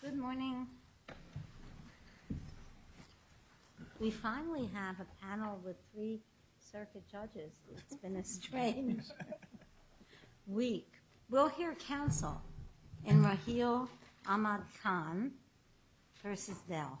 Good morning. We finally have a panel with three circuit judges, it's been a strange week. We'll hear counsel in Raheel Ahmad Khan v. Dell.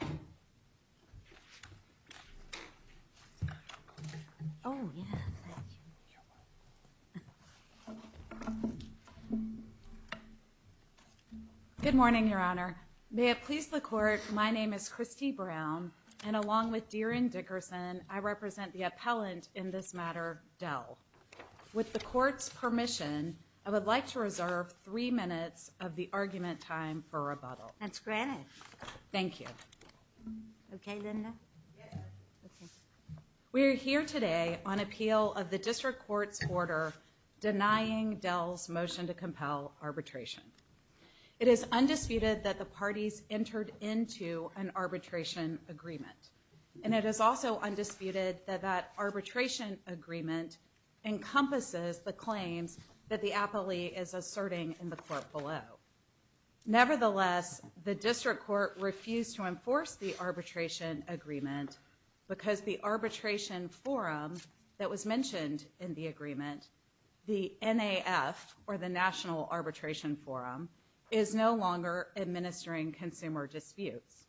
Good morning, Your Honor. May it please the Court, my name is Kristi Brown, and along with DeRionne Dickerson, I represent the appellant in this matter, Dell. With the Court's permission, I would like to reserve three minutes of the argument time for rebuttal. We are here today on appeal of the District Court's order denying Dell's motion to compel arbitration. It is undisputed that the parties entered into an arbitration agreement, and it is also the claims that the appellee is asserting in the Court below. Nevertheless, the District Court refused to enforce the arbitration agreement because the arbitration forum that was mentioned in the agreement, the NAF, or the National Arbitration Forum, is no longer administering consumer disputes.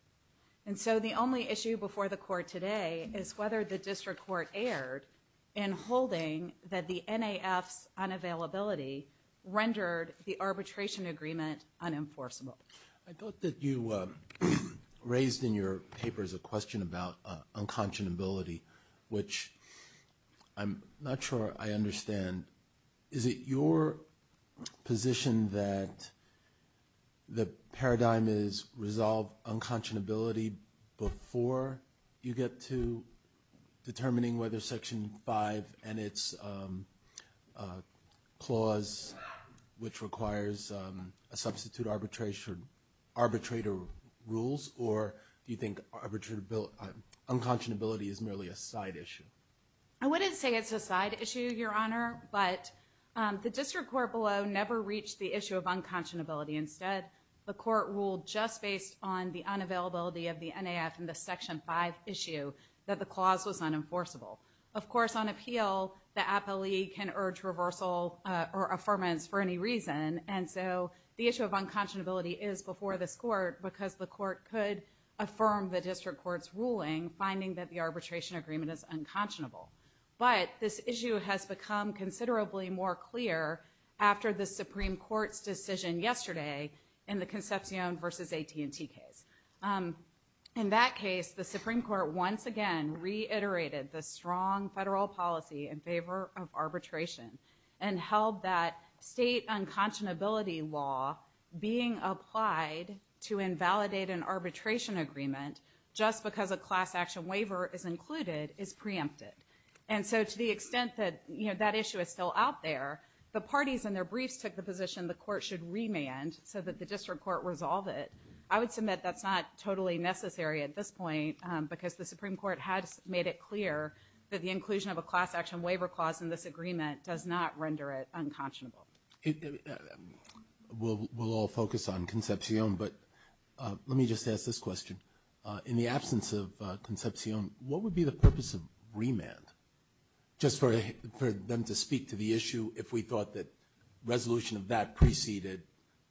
And so the only issue before the Court today is whether the District Court erred in holding that the NAF's unavailability rendered the arbitration agreement unenforceable. I thought that you raised in your papers a question about unconscionability, which I'm not sure I understand. Is it your position that the paradigm is resolve unconscionability before you get to determining whether Section 5 and its clause, which requires a substitute arbitration, arbitrator rules, or do you think unconscionability is merely a side issue? I wouldn't say it's a side issue, Your Honor, but the District Court below never reached the issue of unconscionability. Instead, the Court ruled just based on the unavailability of the NAF in the Section 5 issue that the clause was unenforceable. Of course, on appeal, the appellee can urge reversal or affirmance for any reason. And so the issue of unconscionability is before this Court because the Court could affirm the District Court's ruling, finding that the arbitration agreement is unconscionable. But this issue has become considerably more clear after the Supreme Court's decision yesterday in the Concepcion v. AT&T case. In that case, the Supreme Court once again reiterated the strong federal policy in favor of arbitration and held that state unconscionability law being applied to invalidate an arbitration agreement just because a class action waiver is included is preempted. And so to the extent that that issue is still out there, the parties in their briefs took the position the Court should remand so that the District Court resolve it. I would submit that's not totally necessary at this point because the Supreme Court has made it clear that the inclusion of a class action waiver clause in this agreement does not render it unconscionable. We'll all focus on Concepcion, but let me just ask this question. In the absence of Concepcion, what would be the purpose of remand? Just for them to speak to the issue, if we thought that resolution of that preceded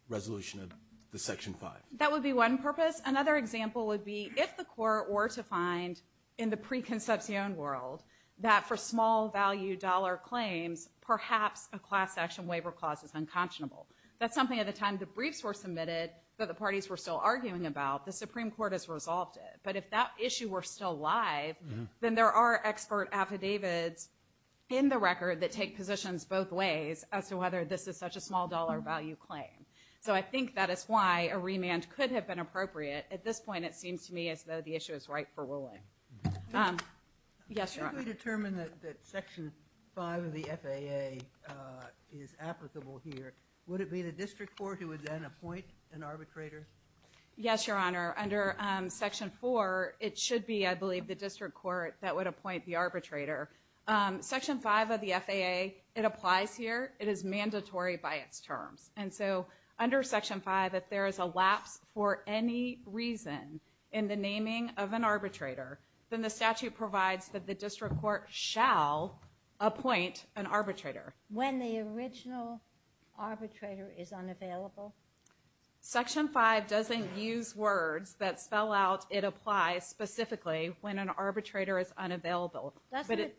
resolution of the Section 5. That would be one purpose. Another example would be if the Court were to find in the pre-Concepcion world that for small value dollar claims, perhaps a class action waiver clause is unconscionable. That's something at the time the briefs were submitted that the parties were still arguing about, the Supreme Court has resolved it. But if that issue were still alive, then there are expert affidavits in the record that take positions both ways as to whether this is such a small dollar value claim. So I think that is why a remand could have been appropriate. At this point, it seems to me as though the issue is ripe for ruling. Yes, Your Honor. If we determine that Section 5 of the FAA is applicable here, would it be the District Court who would then appoint an arbitrator? Yes, Your Honor. Under Section 4, it should be, I believe, the District Court that would appoint the arbitrator. Section 5 of the FAA, it applies here. It is mandatory by its terms. And so under Section 5, if there is a lapse for any reason in the naming of an arbitrator, then the statute provides that the District Court shall appoint an arbitrator. When the original arbitrator is unavailable? Section 5 doesn't use words that spell out it applies specifically when an arbitrator is unavailable. Doesn't it?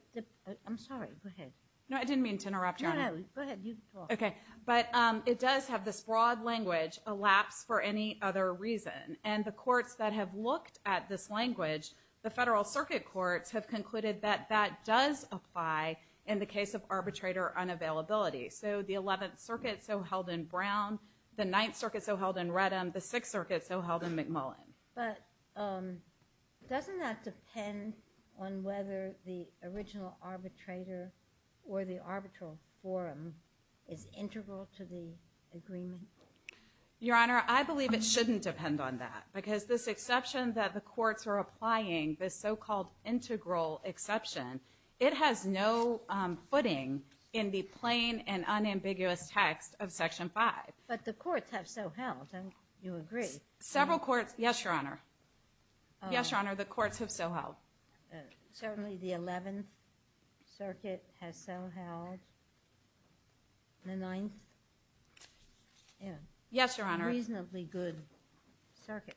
I'm sorry. Go ahead. No, I didn't mean to interrupt, Your Honor. No, no. Go ahead. You talk. Okay. But it does have this broad language, a lapse for any other reason. And the courts that have looked at this language, the Federal Circuit Courts, have concluded that that does apply in the case of arbitrator unavailability. So the 11th Circuit, so held in Brown, the 9th Circuit, so held in Reddam, the 6th Circuit, so held in McMullen. But doesn't that depend on whether the original arbitrator or the arbitral forum is integral to the agreement? Your Honor, I believe it shouldn't depend on that. Because this exception that the courts are applying, this so-called integral exception, it has no footing in the plain and unambiguous text of Section 5. But the courts have so held, and you agree. Several courts. Yes, Your Honor. Yes, Your Honor. The courts have so held. Certainly, the 11th Circuit has so held, the 9th, in reasonably good circuits.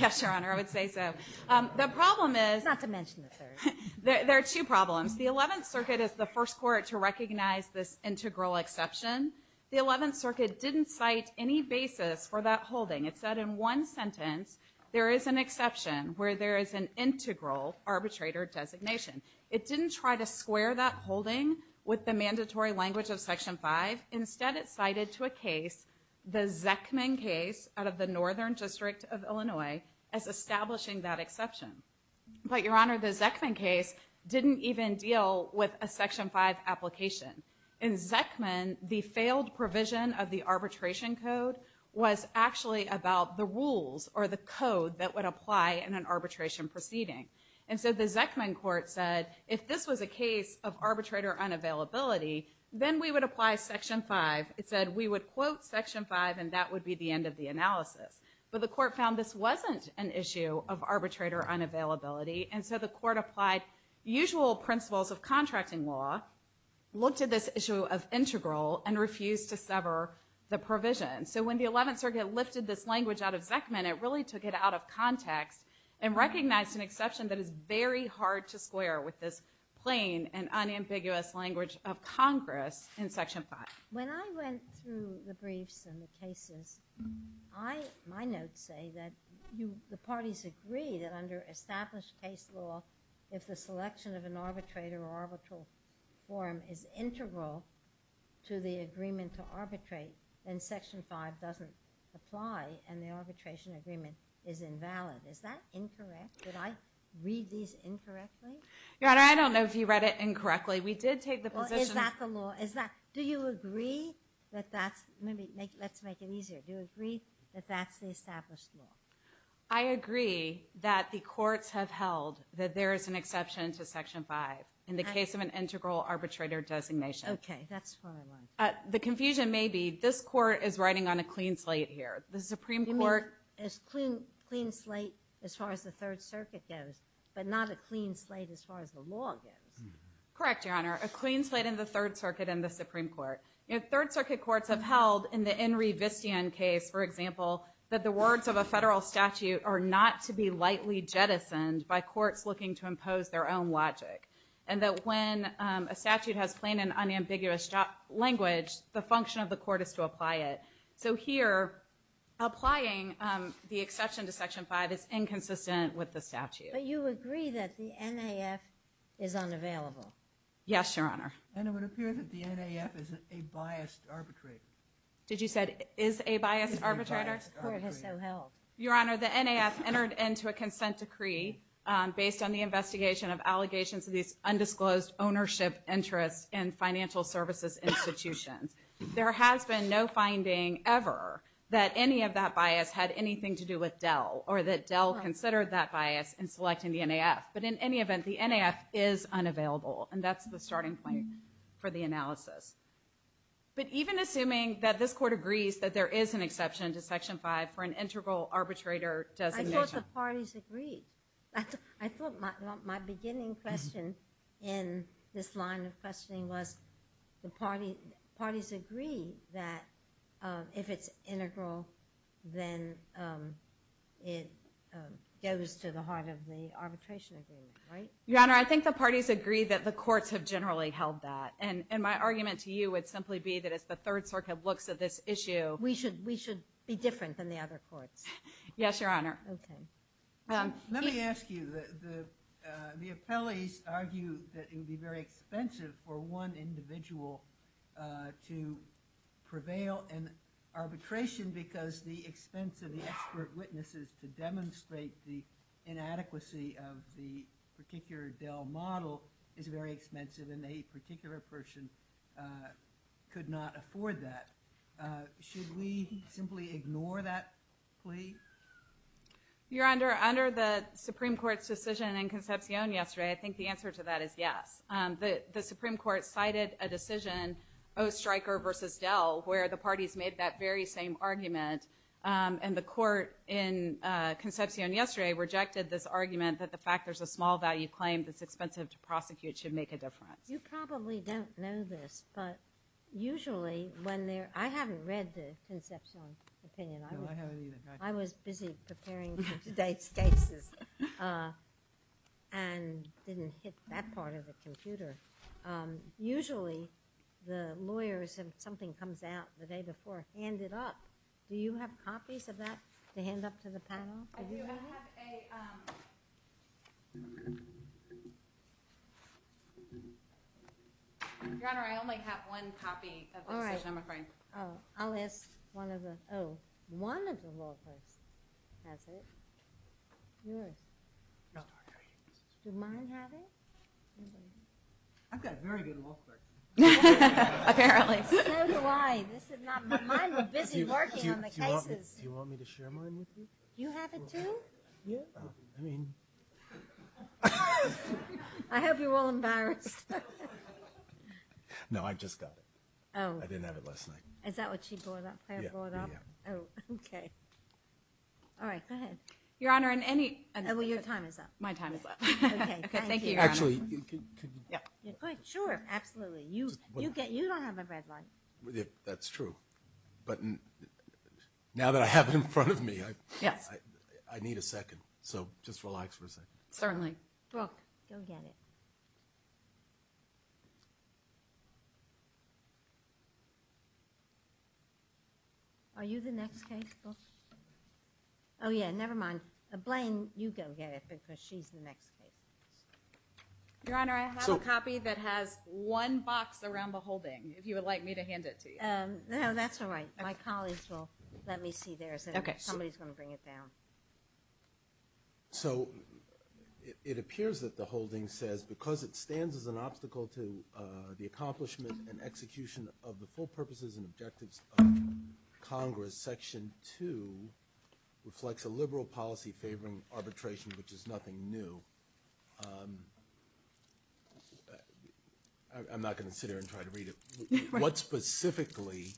Yes, Your Honor, I would say so. The problem is... Not to mention the 3rd. There are two problems. The 11th Circuit is the first court to recognize this integral exception. The 11th Circuit didn't cite any basis for that holding. It said in one sentence, there is an exception where there is an integral arbitrator designation. It didn't try to square that holding with the mandatory language of Section 5. Instead, it cited to a case, the Zeckman case out of the Northern District of Illinois, as establishing that exception. But, Your Honor, the Zeckman case didn't even deal with a Section 5 application. In Zeckman, the failed provision of the arbitration code was actually about the rules or the code that would apply in an arbitration proceeding. And so the Zeckman court said, if this was a case of arbitrator unavailability, then we would apply Section 5. It said we would quote Section 5 and that would be the end of the analysis. But the court found this wasn't an issue of arbitrator unavailability, and so the court applied usual principles of contracting law, looked at this issue of integral, and refused to sever the provision. So when the 11th Circuit lifted this language out of Zeckman, it really took it out of context and recognized an exception that is very hard to square with this plain and unambiguous language of Congress in Section 5. When I went through the briefs and the cases, my notes say that the parties agree that under established case law, if the selection of an arbitrator or arbitral form is integral to the agreement to arbitrate, then Section 5 doesn't apply and the arbitration agreement is invalid. Is that incorrect? Did I read these incorrectly? Your Honor, I don't know if you read it incorrectly. We did take the position... Well, is that the law? Is that... Do you agree that that's... Let's make it easier. Do you agree that that's the established law? I agree that the courts have held that there is an exception to Section 5 in the case of an integral arbitrator designation. Okay. That's what I want. The confusion may be this Court is riding on a clean slate here. The Supreme Court... You mean a clean slate as far as the Third Circuit goes, but not a clean slate as far as the law goes? Correct, Your Honor. A clean slate in the Third Circuit and the Supreme Court. Third Circuit courts have held in the Enri Vistian case, for example, that the words of a federal statute are not to be lightly jettisoned by courts looking to impose their own logic, and that when a statute has plain and unambiguous language, the function of the court is to apply it. So here, applying the exception to Section 5 is inconsistent with the statute. But you agree that the NAF is unavailable? Yes, Your Honor. And it would appear that the NAF is a biased arbitrator. Did you say is a biased arbitrator? Your Honor, the NAF entered into a consent decree based on the investigation of allegations of these undisclosed ownership interests in financial services institutions. There has been no finding ever that any of that bias had anything to do with Dell or that Dell considered that bias in selecting the NAF. But in any event, the NAF is unavailable, and that's the starting point for the analysis. But even assuming that this Court agrees that there is an exception to Section 5 for an integral arbitrator designation. I thought the parties agreed. I thought my beginning question in this line of questioning was the parties agree that if it's integral, then it goes to the heart of the arbitration agreement, right? Your Honor, I think the parties agree that the courts have generally held that. And my argument to you would simply be that it's the Third Circuit looks at this issue. We should be different than the other courts. Yes, Your Honor. Okay. Let me ask you. The appellees argue that it would be very expensive for one individual to prevail in arbitration because the expense of the expert witnesses to demonstrate the inadequacy of the particular Dell model is very expensive, and a particular person could not afford that. Should we simply ignore that plea? Your Honor, under the Supreme Court's decision in Concepcion yesterday, I think the answer to that is yes. The Supreme Court cited a decision, O. Stryker v. Dell, where the parties made that very same argument. And the court in Concepcion yesterday rejected this argument that the fact there's a small value claim that's expensive to prosecute should make a difference. You probably don't know this, but usually when they're... I haven't read the Concepcion opinion. I was busy preparing for today's cases and didn't hit that part of the computer. Usually, the lawyers, if something comes out the day before, hand it up. Do you have copies of that to hand up to the panel? I do. I have a... Your Honor, I only have one copy of the decision, I'm afraid. All right. I'll ask one of the... Oh. One of the lawyers has it. Yours? No. Does mine have it? I've got a very good look for it. Apparently. So do I. This is not... Mine were busy working on the cases. Do you want me to share mine with you? You have it too? Yeah. I mean... I hope you're all embarrassed. No, I just got it. Oh. I didn't have it last night. Is that what she brought up? Yeah. Oh, okay. All right. Go ahead. Your Honor, in any... Well, your time is up. My time is up. Okay. Thank you, Your Honor. Actually, could you... Yeah. Sure. Absolutely. You don't have a red light. That's true. But now that I have it in front of me, I need a second. So just relax for a second. Certainly. Brooke, go get it. Are you the next case, Brooke? Oh, yeah. Never mind. Blaine, you go get it because she's the next case. Your Honor, I have a copy that has one box around the holding, if you would like me to hand it to you. No, that's all right. My colleagues will let me see theirs. Okay. Somebody's going to bring it down. So it appears that the holding says, because it stands as an obstacle to the accomplishment and execution of the full purposes and objectives of Congress, Section 2 reflects a liberal policy favoring arbitration, which is nothing new. I'm not going to sit here and try to read it. What specifically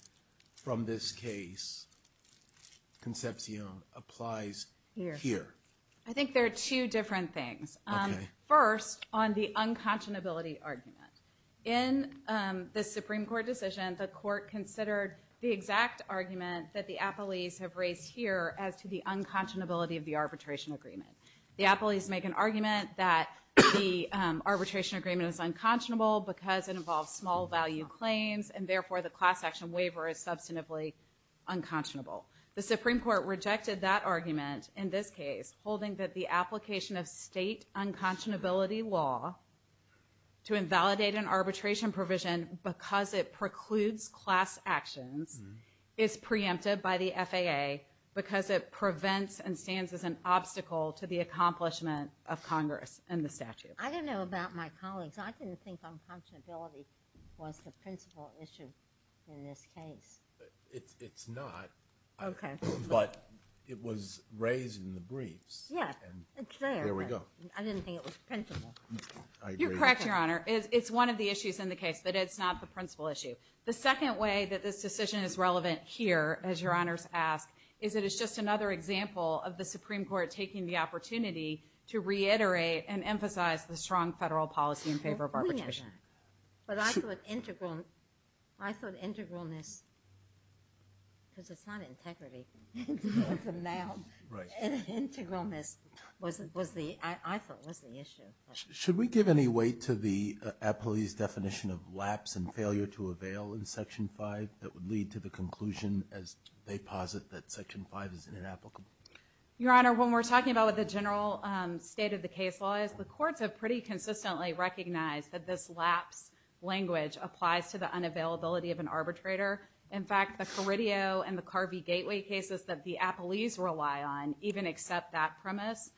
from this case, Concepcion, applies here? I think there are two different things. Okay. First, on the unconscionability argument. In the Supreme Court decision, the Court considered the exact argument that the appellees have The appellees make an argument that the arbitration agreement is unconscionable because it involves small value claims, and therefore the class action waiver is substantively unconscionable. The Supreme Court rejected that argument in this case, holding that the application of state unconscionability law to invalidate an arbitration provision because it precludes class actions is preempted by the FAA because it prevents and stands as an obstacle to the accomplishment of Congress and the statute. I didn't know about my colleagues. I didn't think unconscionability was the principal issue in this case. It's not. Okay. But it was raised in the briefs. Yeah. It's there. There we go. I didn't think it was principal. You're correct, Your Honor. It's one of the issues in the case, but it's not the principal issue. The second way that this decision is relevant here, as Your Honors ask, is that it's just another example of the Supreme Court taking the opportunity to reiterate and emphasize the strong federal policy in favor of arbitration. But I thought integralness, because it's not integrity from now. Integralness, I thought, was the issue. Should we give any weight to the appellee's definition of lapse and failure to avail in Section 5 that would lead to the conclusion as they posit that Section 5 is inapplicable? Your Honor, when we're talking about what the general state of the case law is, the courts have pretty consistently recognized that this lapse language applies to the unavailability of an arbitrator. In fact, the Caridio and the Carvey Gateway cases that the appellees rely on even accept that premise.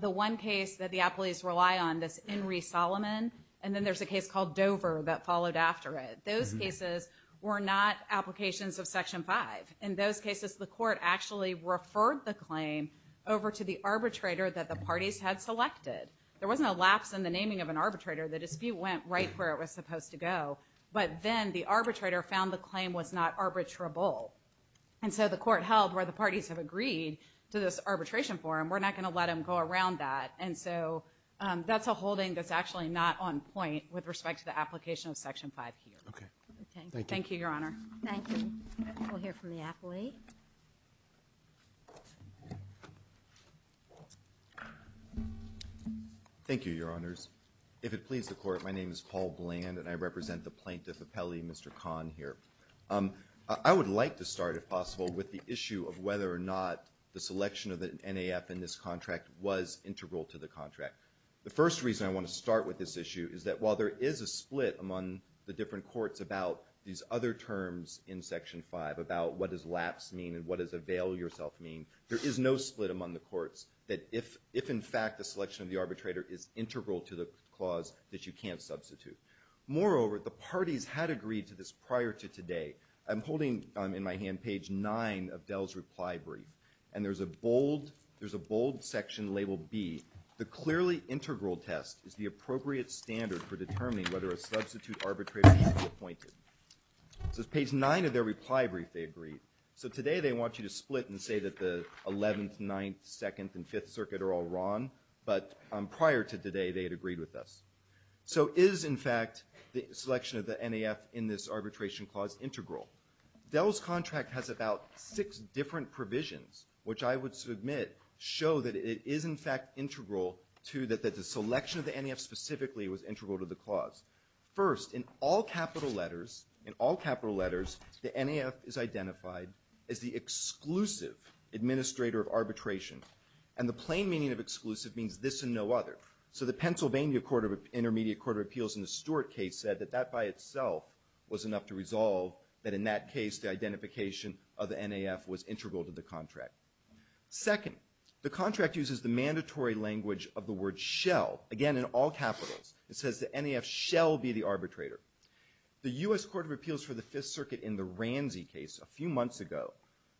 The one case that the appellees rely on, this Enri Solomon, and then there's a case called Dover that followed after it. Those cases were not applications of Section 5. In those cases, the court actually referred the claim over to the arbitrator that the parties had selected. There wasn't a lapse in the naming of an arbitrator. The dispute went right where it was supposed to go. But then the arbitrator found the claim was not arbitrable. And so the court held where the parties have agreed to this arbitration forum, we're not going to let them go around that. And so that's a holding that's actually not on point with respect to the application of Section 5 here. Okay. Thank you, Your Honor. Thank you. We'll hear from the appellee. Thank you, Your Honors. If it pleases the Court, my name is Paul Bland, and I represent the plaintiff appellee, Mr. Kahn, here. I would like to start, if possible, with the issue of whether or not the selection of the arbitrator in Section 5 of the contract was integral to the contract. The first reason I want to start with this issue is that while there is a split among the different courts about these other terms in Section 5, about what does lapse mean and what does avail yourself mean, there is no split among the courts that if, in fact, the selection of the arbitrator is integral to the clause, that you can't substitute. Moreover, the parties had agreed to this prior to today. I'm holding in my hand page 9 of Dell's reply brief. And there's a bold section labeled B. The clearly integral test is the appropriate standard for determining whether a substitute arbitrator should be appointed. So it's page 9 of their reply brief they agreed. So today they want you to split and say that the 11th, 9th, 2nd, and 5th Circuit are all wrong, but prior to today they had agreed with us. So is, in fact, the selection of the NAF in this arbitration clause integral? Dell's contract has about six different provisions, which I would submit show that it is, in fact, integral to that the selection of the NAF specifically was integral to the clause. First, in all capital letters, in all capital letters, the NAF is identified as the exclusive administrator of arbitration. And the plain meaning of exclusive means this and no other. So the Pennsylvania Court of Intermediate Court of Appeals in the Stewart case said that by itself was enough to resolve that in that case the identification of the NAF was integral to the contract. Second, the contract uses the mandatory language of the word shell. Again, in all capitals, it says the NAF shall be the arbitrator. The U.S. Court of Appeals for the 5th Circuit in the Ramsey case a few months ago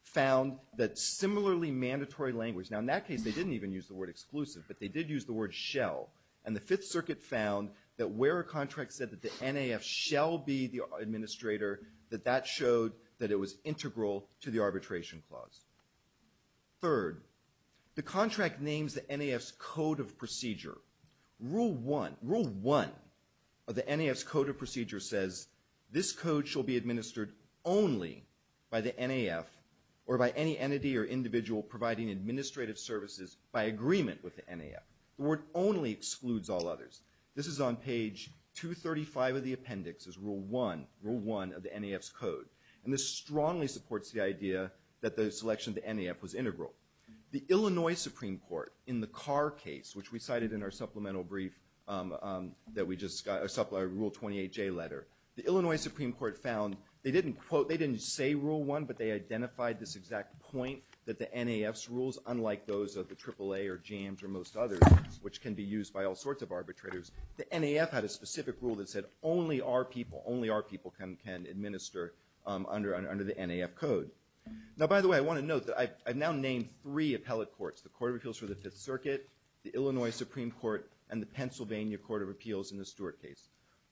found that similarly mandatory language, now in that case they didn't even use the word exclusive, but they did use the word shell. And the 5th Circuit found that where a contract said that the NAF shall be the administrator, that that showed that it was integral to the arbitration clause. Third, the contract names the NAF's code of procedure. Rule one, rule one of the NAF's code of procedure says this code shall be administered only by the NAF or by any entity or individual providing administrative services by agreement with the NAF. The word only excludes all others. This is on page 235 of the appendix is rule one, rule one of the NAF's code. And this strongly supports the idea that the selection of the NAF was integral. The Illinois Supreme Court in the Carr case, which we cited in our supplemental brief that we just got, our rule 28J letter, the Illinois Supreme Court found they didn't quote, they didn't say rule one, but they identified this exact point that the NAF's rules, unlike those of the AAA or JAMS or most others, which can be used by all sorts of arbitrators, the NAF had a specific rule that said only our people, only our people can administer under the NAF code. Now, by the way, I want to note that I've now named three appellate courts, the Court of Appeals for the 5th Circuit, the Illinois Supreme Court, and the Pennsylvania Court of Appeals in the Stewart case.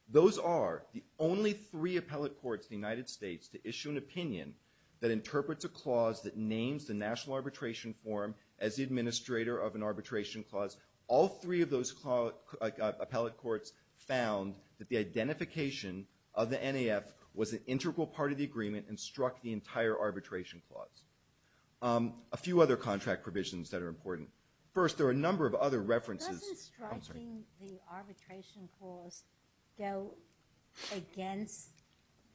Those are the only three appellate courts in the United States to issue an opinion that interprets a clause that names the national arbitration form as the administrator of an arbitration clause. All three of those appellate courts found that the identification of the NAF was an integral part of the agreement and struck the entire arbitration clause. A few other contract provisions that are important. First, there are a number of other references. Doesn't striking the arbitration clause go against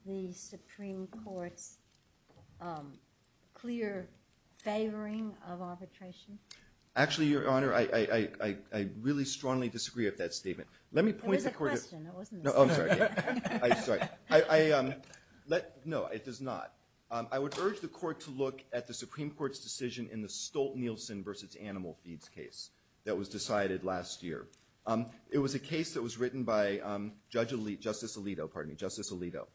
the Supreme Court's clear favoring of arbitration? Actually, Your Honor, I really strongly disagree with that statement. There was a question, it wasn't a statement. Oh, I'm sorry. No, it does not. I would urge the Court to look at the Supreme Court's decision in the Stolt-Nielsen v. Animal Feeds case that was decided last year. It was a case that was written by Justice Alito.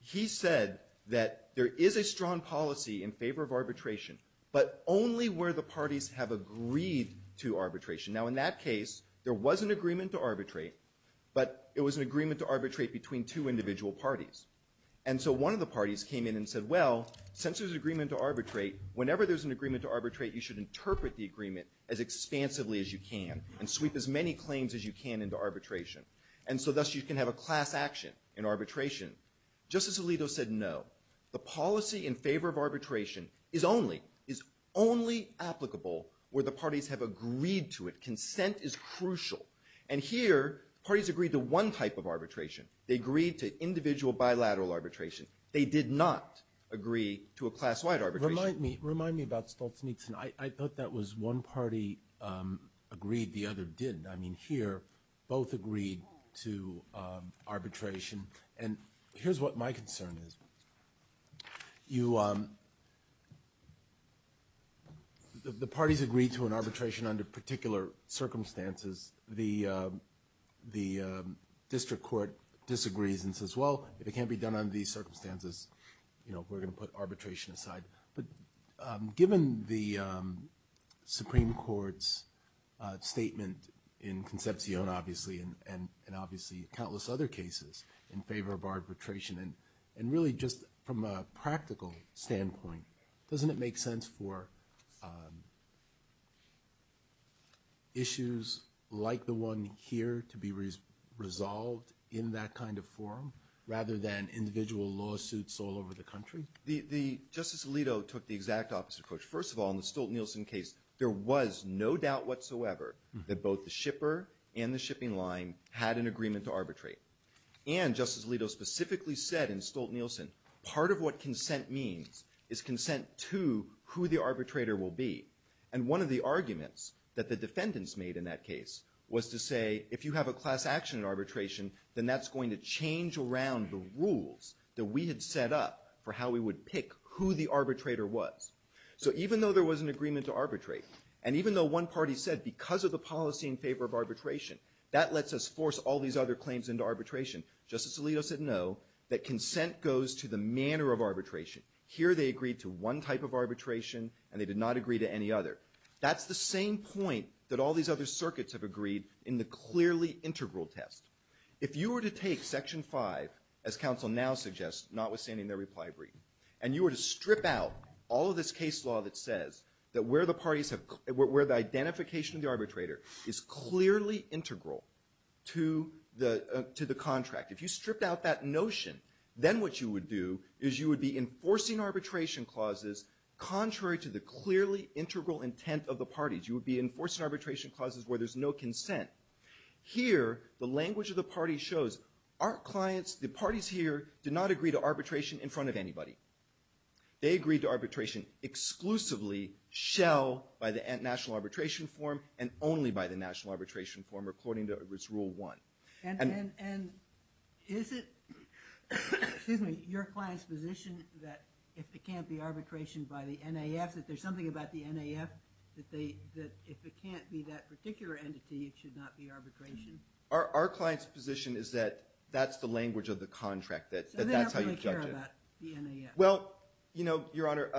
He said that there is a strong policy in favor of arbitration, but only where the parties have agreed to arbitration. Now, in that case, there was an agreement to arbitrate, but it was an agreement to arbitrate between two individual parties. And so one of the parties came in and said, well, since there's an agreement to arbitrate, whenever there's an agreement to arbitrate, you should interpret the agreement as expansively as you can and sweep as many claims as you can into arbitration. And so thus you can have a class action in arbitration. Justice Alito said no. The policy in favor of arbitration is only applicable where the parties have agreed to it. Consent is crucial. And here, parties agreed to one type of arbitration. They agreed to individual bilateral arbitration. They did not agree to a class-wide arbitration. Remind me about Stolz-Nixon. I thought that was one party agreed, the other didn't. I mean, here, both agreed to arbitration. And here's what my concern is. The parties agreed to an arbitration under particular circumstances. The district court disagrees and says, well, if it can't be done under these circumstances, we're going to put arbitration aside. But given the Supreme Court's statement in Concepcion, obviously, and obviously countless other cases in favor of arbitration, and really just from a practical standpoint, doesn't it make sense for issues like the one here to be resolved in that kind of forum rather than individual lawsuits all over the country? Justice Alito took the exact opposite approach. First of all, in the Stolz-Nixon case, there was no doubt whatsoever that both the shipper and the shipping line had an agreement to arbitrate. And Justice Alito specifically said in Stolz-Nixon, part of what consent means is consent to who the arbitrator will be. And one of the arguments that the defendants made in that case was to say, if you have a class action arbitration, then that's going to change around the rules that we had set up for how we would pick who the arbitrator was. So even though there was an agreement to arbitrate, and even though one party said, because of the policy in favor of arbitration, that lets us force all these other claims into arbitration, Justice Alito said no, that consent goes to the manner of arbitration. Here they agreed to one type of arbitration, and they did not agree to any other. That's the same point that all these other circuits have agreed in the clearly integral test. If you were to take Section 5, as counsel now suggests, notwithstanding their reply brief, and you were to strip out all of this case law that says that where the parties have, where the identification of the arbitrator is clearly integral to the contract. If you stripped out that notion, then what you would do is you would be enforcing arbitration clauses contrary to the clearly integral intent of the parties. You would be enforcing arbitration clauses where there's no consent. Here, the language of the party shows, our clients, the parties here, did not agree to arbitration in front of anybody. They agreed to arbitration exclusively, shell, by the National Arbitration Form, and only by the National Arbitration Form, according to its Rule 1. And is it, excuse me, your client's position that if there can't be arbitration by the NAF, that there's something about the NAF, that if it can't be that particular entity, it should not be arbitration? Our client's position is that that's the language of the contract, that that's how you judge it. So they don't really care about the NAF? Well, you know, Your Honor,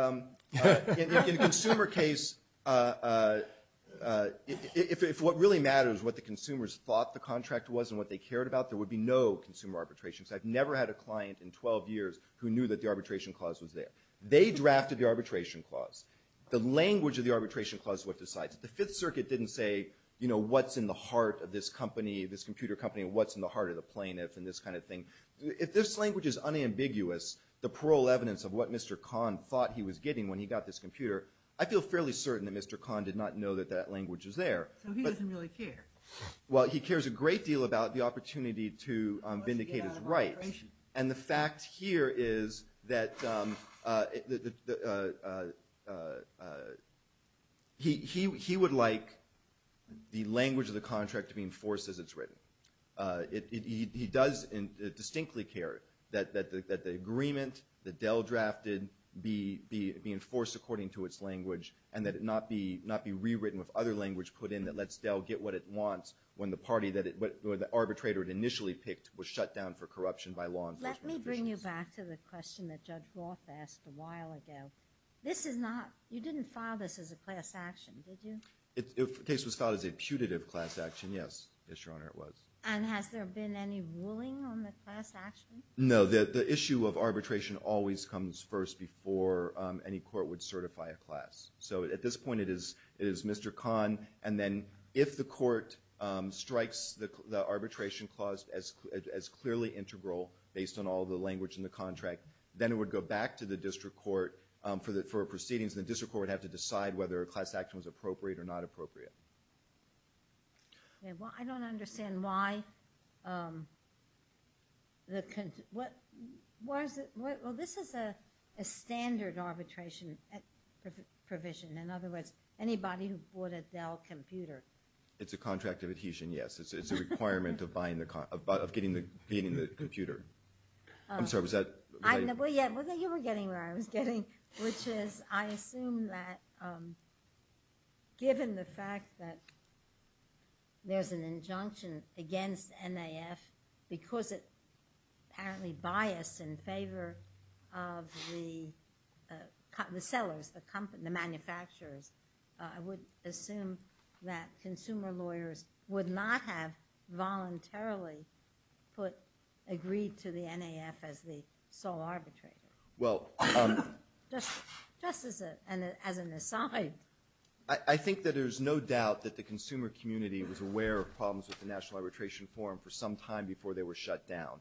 in a consumer case, if what really matters is what the consumers thought the contract was and what they cared about, there would be no consumer arbitration. I've never had a client in 12 years who knew that the arbitration clause was there. They drafted the arbitration clause. The language of the arbitration clause is what decides it. The Fifth Circuit didn't say, you know, what's in the heart of this company, this computer company, and what's in the heart of the plaintiff and this kind of thing. If this language is unambiguous, the parole evidence of what Mr. Kahn thought he was getting when he got this computer, I feel fairly certain that Mr. Kahn did not know that that language was there. So he doesn't really care? Well, he cares a great deal about the opportunity to vindicate his rights. And the fact here is that... He would like the language of the contract to be enforced as it's written. He does distinctly care that the agreement that Dell drafted be enforced according to its language and that it not be rewritten with other language put in that lets Dell get what it wants when the arbitrator it initially picked was shut down for corruption by law enforcement officials. Let me bring you back to the question that Judge Roth asked a while ago. This is not... You didn't file this as a class action, did you? The case was filed as a putative class action, yes. Yes, Your Honor, it was. And has there been any ruling on the class action? No. The issue of arbitration always comes first before any court would certify a class. So at this point, it is Mr. Kahn, and then if the court strikes the arbitration clause as clearly integral based on all the language in the contract, then it would go back to the district court for a proceedings and the district court would have to decide whether a class action was appropriate or not appropriate. Well, I don't understand why... Why is it... Well, this is a standard arbitration provision. In other words, anybody who bought a Dell computer... It's a contract of adhesion, yes. It's a requirement of getting the computer. I'm sorry, was that... Well, yeah, you were getting where I was getting, which is I assume that given the fact that there's an injunction against NAF because it apparently biased in favor of the sellers, the manufacturers, I would assume that consumer lawyers would not have voluntarily put, agreed to the NAF as the sole arbitrator. Well... Just as an aside. I think that there's no doubt that the consumer community was aware of problems with the National Arbitration Forum for some time before they were shut down.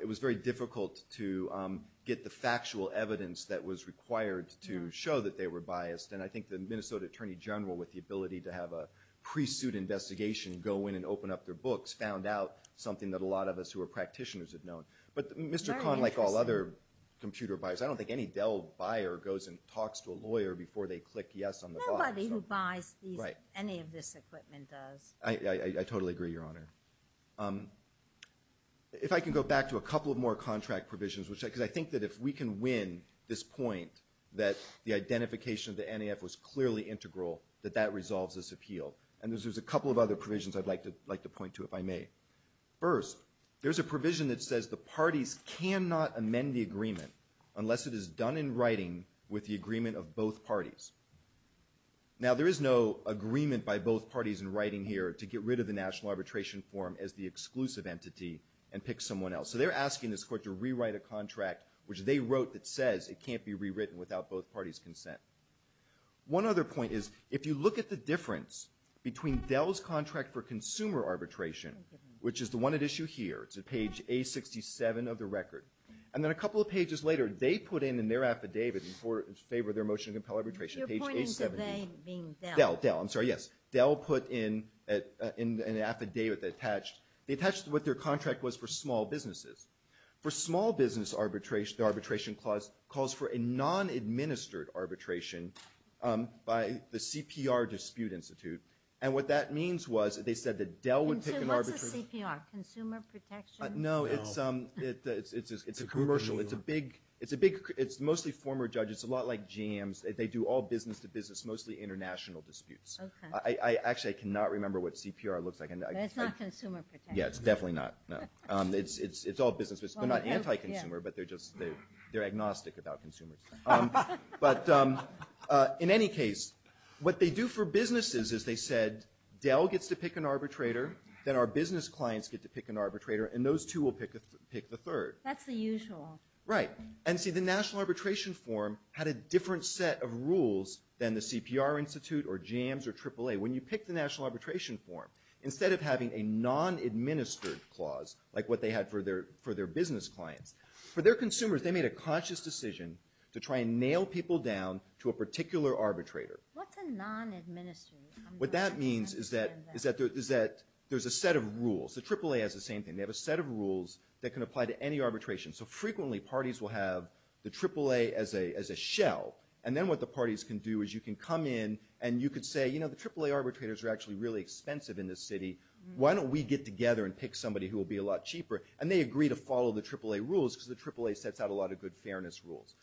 It was very difficult to get the factual evidence that was required to show that they were biased. And I think the Minnesota Attorney General, with the ability to have a pre-suit investigation go in and open up their books, found out something that a lot of us who are practitioners have known. But Mr. Kahn, like all other computer buyers, I don't think any Dell buyer goes and talks to a lawyer before they click yes on the box. Nobody who buys any of this equipment does. I totally agree, Your Honor. If I can go back to a couple of more contract provisions, because I think that if we can win this point that the identification of the NAF was clearly integral, that that resolves this appeal. And there's a couple of other provisions I'd like to point to, if I may. First, there's a provision that says the parties cannot amend the agreement unless it is done in writing with the agreement of both parties. Now, there is no agreement by both parties in writing here to get rid of the National Arbitration Forum as the exclusive entity and they're asking this court to rewrite a contract which they wrote that says it can't be rewritten without both parties' consent. One other point is, if you look at the difference between Dell's contract for consumer arbitration, which is the one at issue here, it's at page A67 of the record, and then a couple of pages later, they put in in their affidavit in favor of their motion to compel arbitration, page A17. You're pointing to them being Dell. Dell, I'm sorry, yes. Dell put in an affidavit that attached what their contract was for small businesses. For small business arbitration, the arbitration clause calls for a non-administered arbitration by the CPR Dispute Institute, and what that means was, they said that Dell would take an arbitration... And so what's a CPR? Consumer Protection? No, it's a commercial, it's a big it's mostly former judges, a lot like GMs, they do all business to business, mostly international disputes. I actually cannot remember what consumer protection is. Yeah, it's definitely not. It's all business. They're not anti-consumer, but they're just, they're agnostic about consumers. But in any case, what they do for businesses is they said, Dell gets to pick an arbitrator, then our business clients get to pick an arbitrator, and those two will pick the third. That's the usual. Right. And see, the National Arbitration Form had a different set of rules than the CPR Institute or GMs or AAA. When you pick the National Arbitration, it's a non-administered clause, like what they had for their business clients. For their consumers, they made a conscious decision to try and nail people down to a particular arbitrator. What's a non-administered? What that means is that there's a set of rules. The AAA has the same thing. They have a set of rules that can apply to any arbitration. So frequently, parties will have the AAA as a shell, and then what the parties can do is you can come in and you could say, you know, the AAA arbitrators are actually really expensive in this city. Why don't we get together and pick somebody who will be a lot cheaper? And they agree to follow the AAA rules because the AAA sets out a lot of good fairness rules.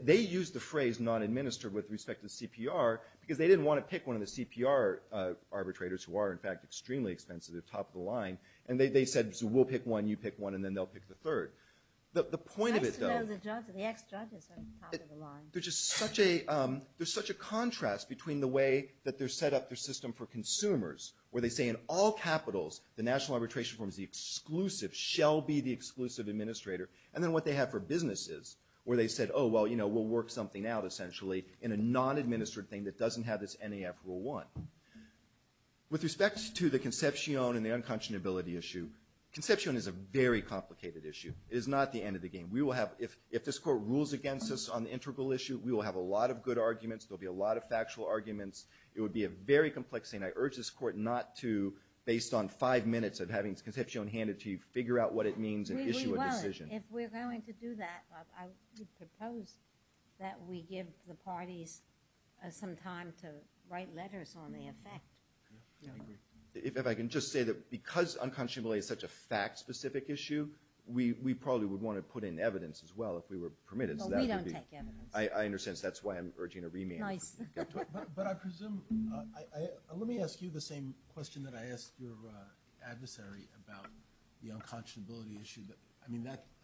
They used the phrase non-administered with respect to CPR because they didn't want to pick one of the CPR arbitrators who are, in fact, extremely expensive. They're top of the line. And they said, we'll pick one, you pick one, and then they'll pick the third. The point of it, though... The ex-judges are top of the line. There's just such a set up their system for consumers, where they say in all capitals, the National Arbitration Forum is the exclusive, shall be the exclusive administrator, and then what they have for businesses, where they said, oh, well, you know, we'll work something out, essentially, in a non-administered thing that doesn't have this NAF rule one. With respect to the conception and the unconscionability issue, conception is a very complicated issue. It is not the end of the game. We will have, if this court rules against us on the integral issue, we will have a lot of good arguments. There will be a lot of factual arguments. It would be a very complex thing. I urge this court not to, based on five minutes of having this conception hand it to you, figure out what it means and issue a decision. If we're going to do that, I would propose that we give the parties some time to write letters on the effect. I agree. If I can just say that because unconscionability is such a fact-specific issue, we probably would want to put in evidence as well if we were permitted. We don't take evidence. That's why I'm urging a remand. Let me ask you the same question that I asked your adversary about the unconscionability issue.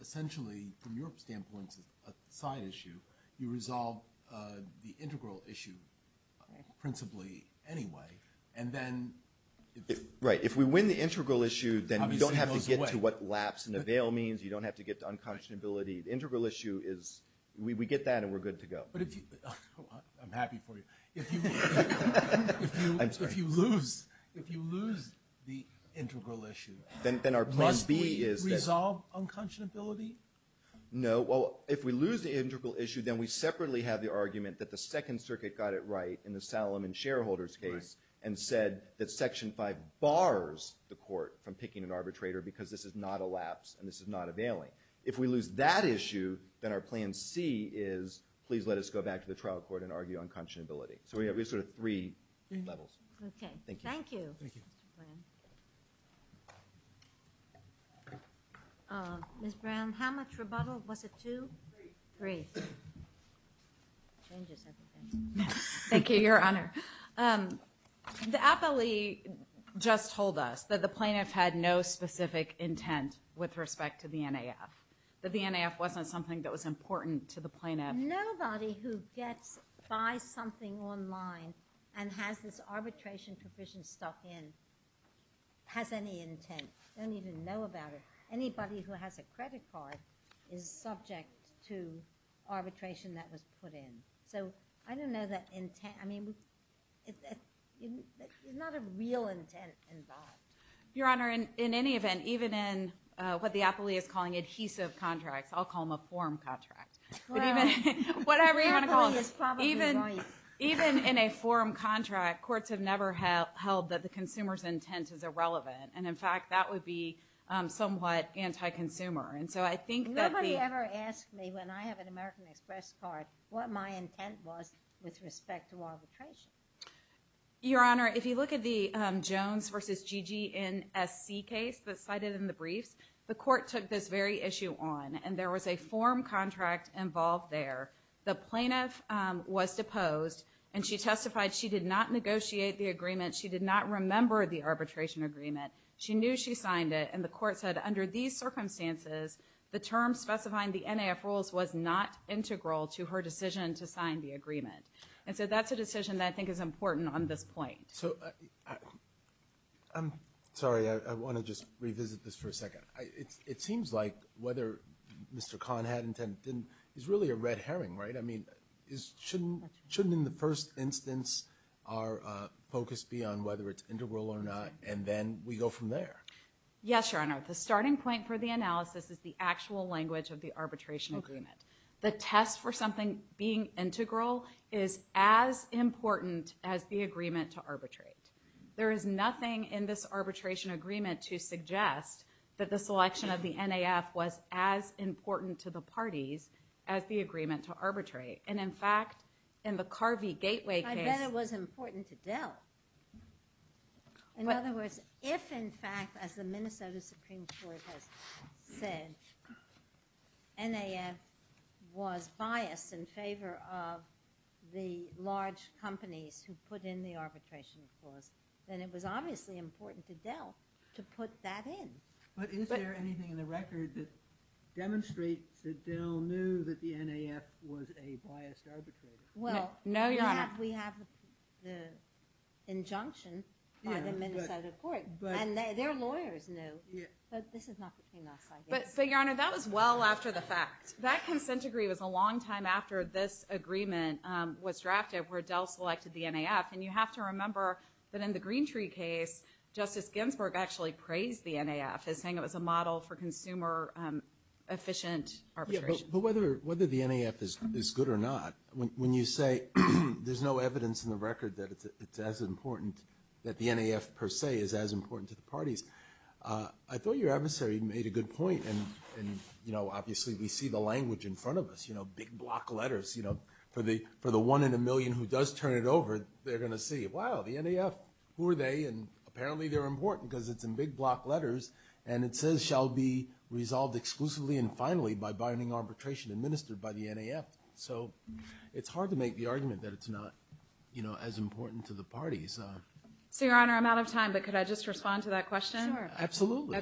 Essentially, from your standpoint, it's a side issue. You resolve the integral issue principally anyway. If we win the integral issue, then you don't have to get to what lapse and avail means. You don't have to get to We get that and we're good to go. I'm happy for you. If you lose the integral issue, must we resolve unconscionability? If we lose the integral issue, then we separately have the argument that the Second Circuit got it right in the Salomon shareholders case and said that Section 5 bars the court from picking an arbitrator because this is not a lapse and this is not a bailing. If we lose that issue, then our plan C is let us go back to the trial court and argue unconscionability. We have three levels. Thank you. Ms. Brown, how much rebuttal? Was it two? Three. Thank you, Your Honor. The appellee just told us that the plaintiff had no specific intent with respect to the NAF. That the NAF wasn't something that was important to the plaintiff. Nobody who gets, buys something online and has this arbitration provision stuck in has any intent. They don't even know about it. Anybody who has a credit card is subject to arbitration that was put in. I don't know that intent. There's not a real intent involved. Your Honor, in any event, even in what the appellee is calling adhesive contracts. I'll call them a form contract. Whatever you want to call it. Even in a form contract, courts have never held that the consumer's intent is irrelevant. In fact, that would be somewhat anti-consumer. Nobody ever asks me when I have an American Express card what my intent was with respect to arbitration. Your Honor, if you look at the Jones versus GGNSC case that's cited in the briefs, the court took this very issue on and there was a form contract involved there. The plaintiff was deposed and she testified she did not negotiate the agreement. She did not remember the arbitration agreement. She knew she signed it and the court said under these circumstances, the term specifying the NAF rules was not integral to her decision to sign the agreement. That's a form contract. I'm sorry. I want to just revisit this for a second. It seems like whether Mr. Kahn had intent is really a red herring, right? I mean, shouldn't in the first instance our focus be on whether it's integral or not and then we go from there? Yes, Your Honor. The starting point for the analysis is the actual language of the arbitration agreement. The test for something being integral is as important to the parties as the agreement to arbitrate. There is nothing in this arbitration agreement to suggest that the selection of the NAF was as important to the parties as the agreement to arbitrate. And in fact, in the Carvey Gateway case... I bet it was important to Dell. In other words, if in fact, as the Minnesota Supreme Court has said, NAF was biased in favor of the large companies who put in the arbitration clause, then it was obviously important to Dell to put that in. But is there anything in the record that demonstrates that Dell knew that the NAF was a biased arbitrator? No, Your Honor. We have the injunction by the Minnesota court. And their lawyers knew. But this is not between us, I guess. But Your Honor, that was well after the fact. That consent decree was a long time after this agreement was drafted where Dell selected the NAF. And you have to remember that in the Green Tree case, Justice Ginsburg actually praised the NAF as saying it was a model for consumer efficient arbitration. But whether the NAF is good or not, when you say there's no evidence in the record that it's as important, that the NAF per se is as important to the parties, I thought your adversary made a good point. And obviously we see the language in front of us. Big block letters. For the one in a million who does turn it over, they're going to see, wow, the NAF. Who are they? And apparently they're important because it's in big block letters. And it says shall be resolved exclusively and finally by binding arbitration administered by the NAF. So it's hard to make the argument that it's not as important to the parties. So, Your Honor, I'm out of time. But could I just respond to that question? Sure. Absolutely.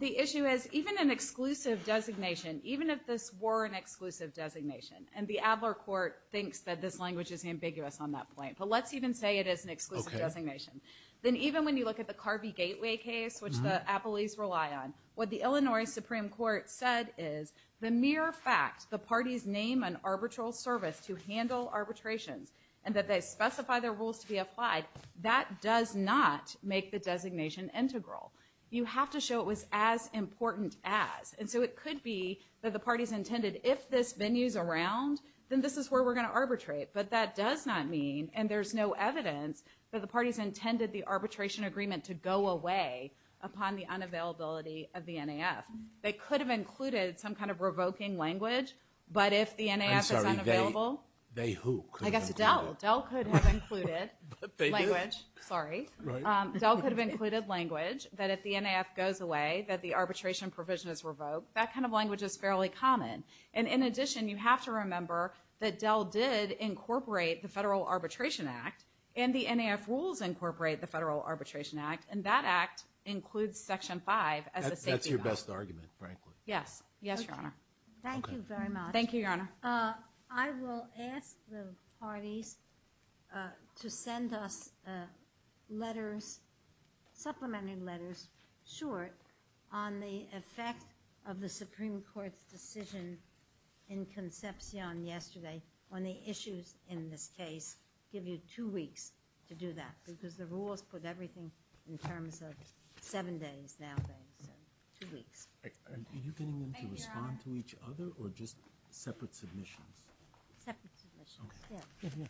The issue is, even an exclusive designation, even if this were an exclusive designation, and the Adler Court thinks that this language is ambiguous on that point, but let's even say it is an exclusive designation, then even when you look at the Carvey Gateway case, which the Appleys rely on, what the Illinois Supreme Court said is, the mere fact the parties name an arbitral service to handle arbitrations and that they specify their rules to be applied, that does not make the designation integral. You have to show it was as important as. And so it could be that the parties intended, if this venue's around, then this is where we're going to arbitrate. But that does not mean, and there's no evidence, that the parties intended the arbitration agreement to go away upon the unavailability of the NAF. They could have included some kind of revoking language, but if the NAF is unavailable... I'm sorry, they who? I guess Dell. Dell could have included language, sorry. Dell could have included language that if the NAF goes away, that the arbitration provision is revoked. That kind of language is fairly common. And in addition, you have to remember that Dell did incorporate the Federal Arbitration Act, and the NAF rules incorporate the Federal Arbitration Act, and that act includes Section 5 as a safety... That's your best argument, frankly. Yes. Yes, Your Honor. Thank you very much. Thank you, Your Honor. I will ask the Supreme Court to send us letters, supplementary letters, short, on the effect of the Supreme Court's decision in Concepcion yesterday on the issues in this case. Give you two weeks to do that, because the rules put everything in terms of seven days nowadays, so two weeks. Are you getting them to respond to each other, or just separate submissions? Separate submissions. Okay. Thank you.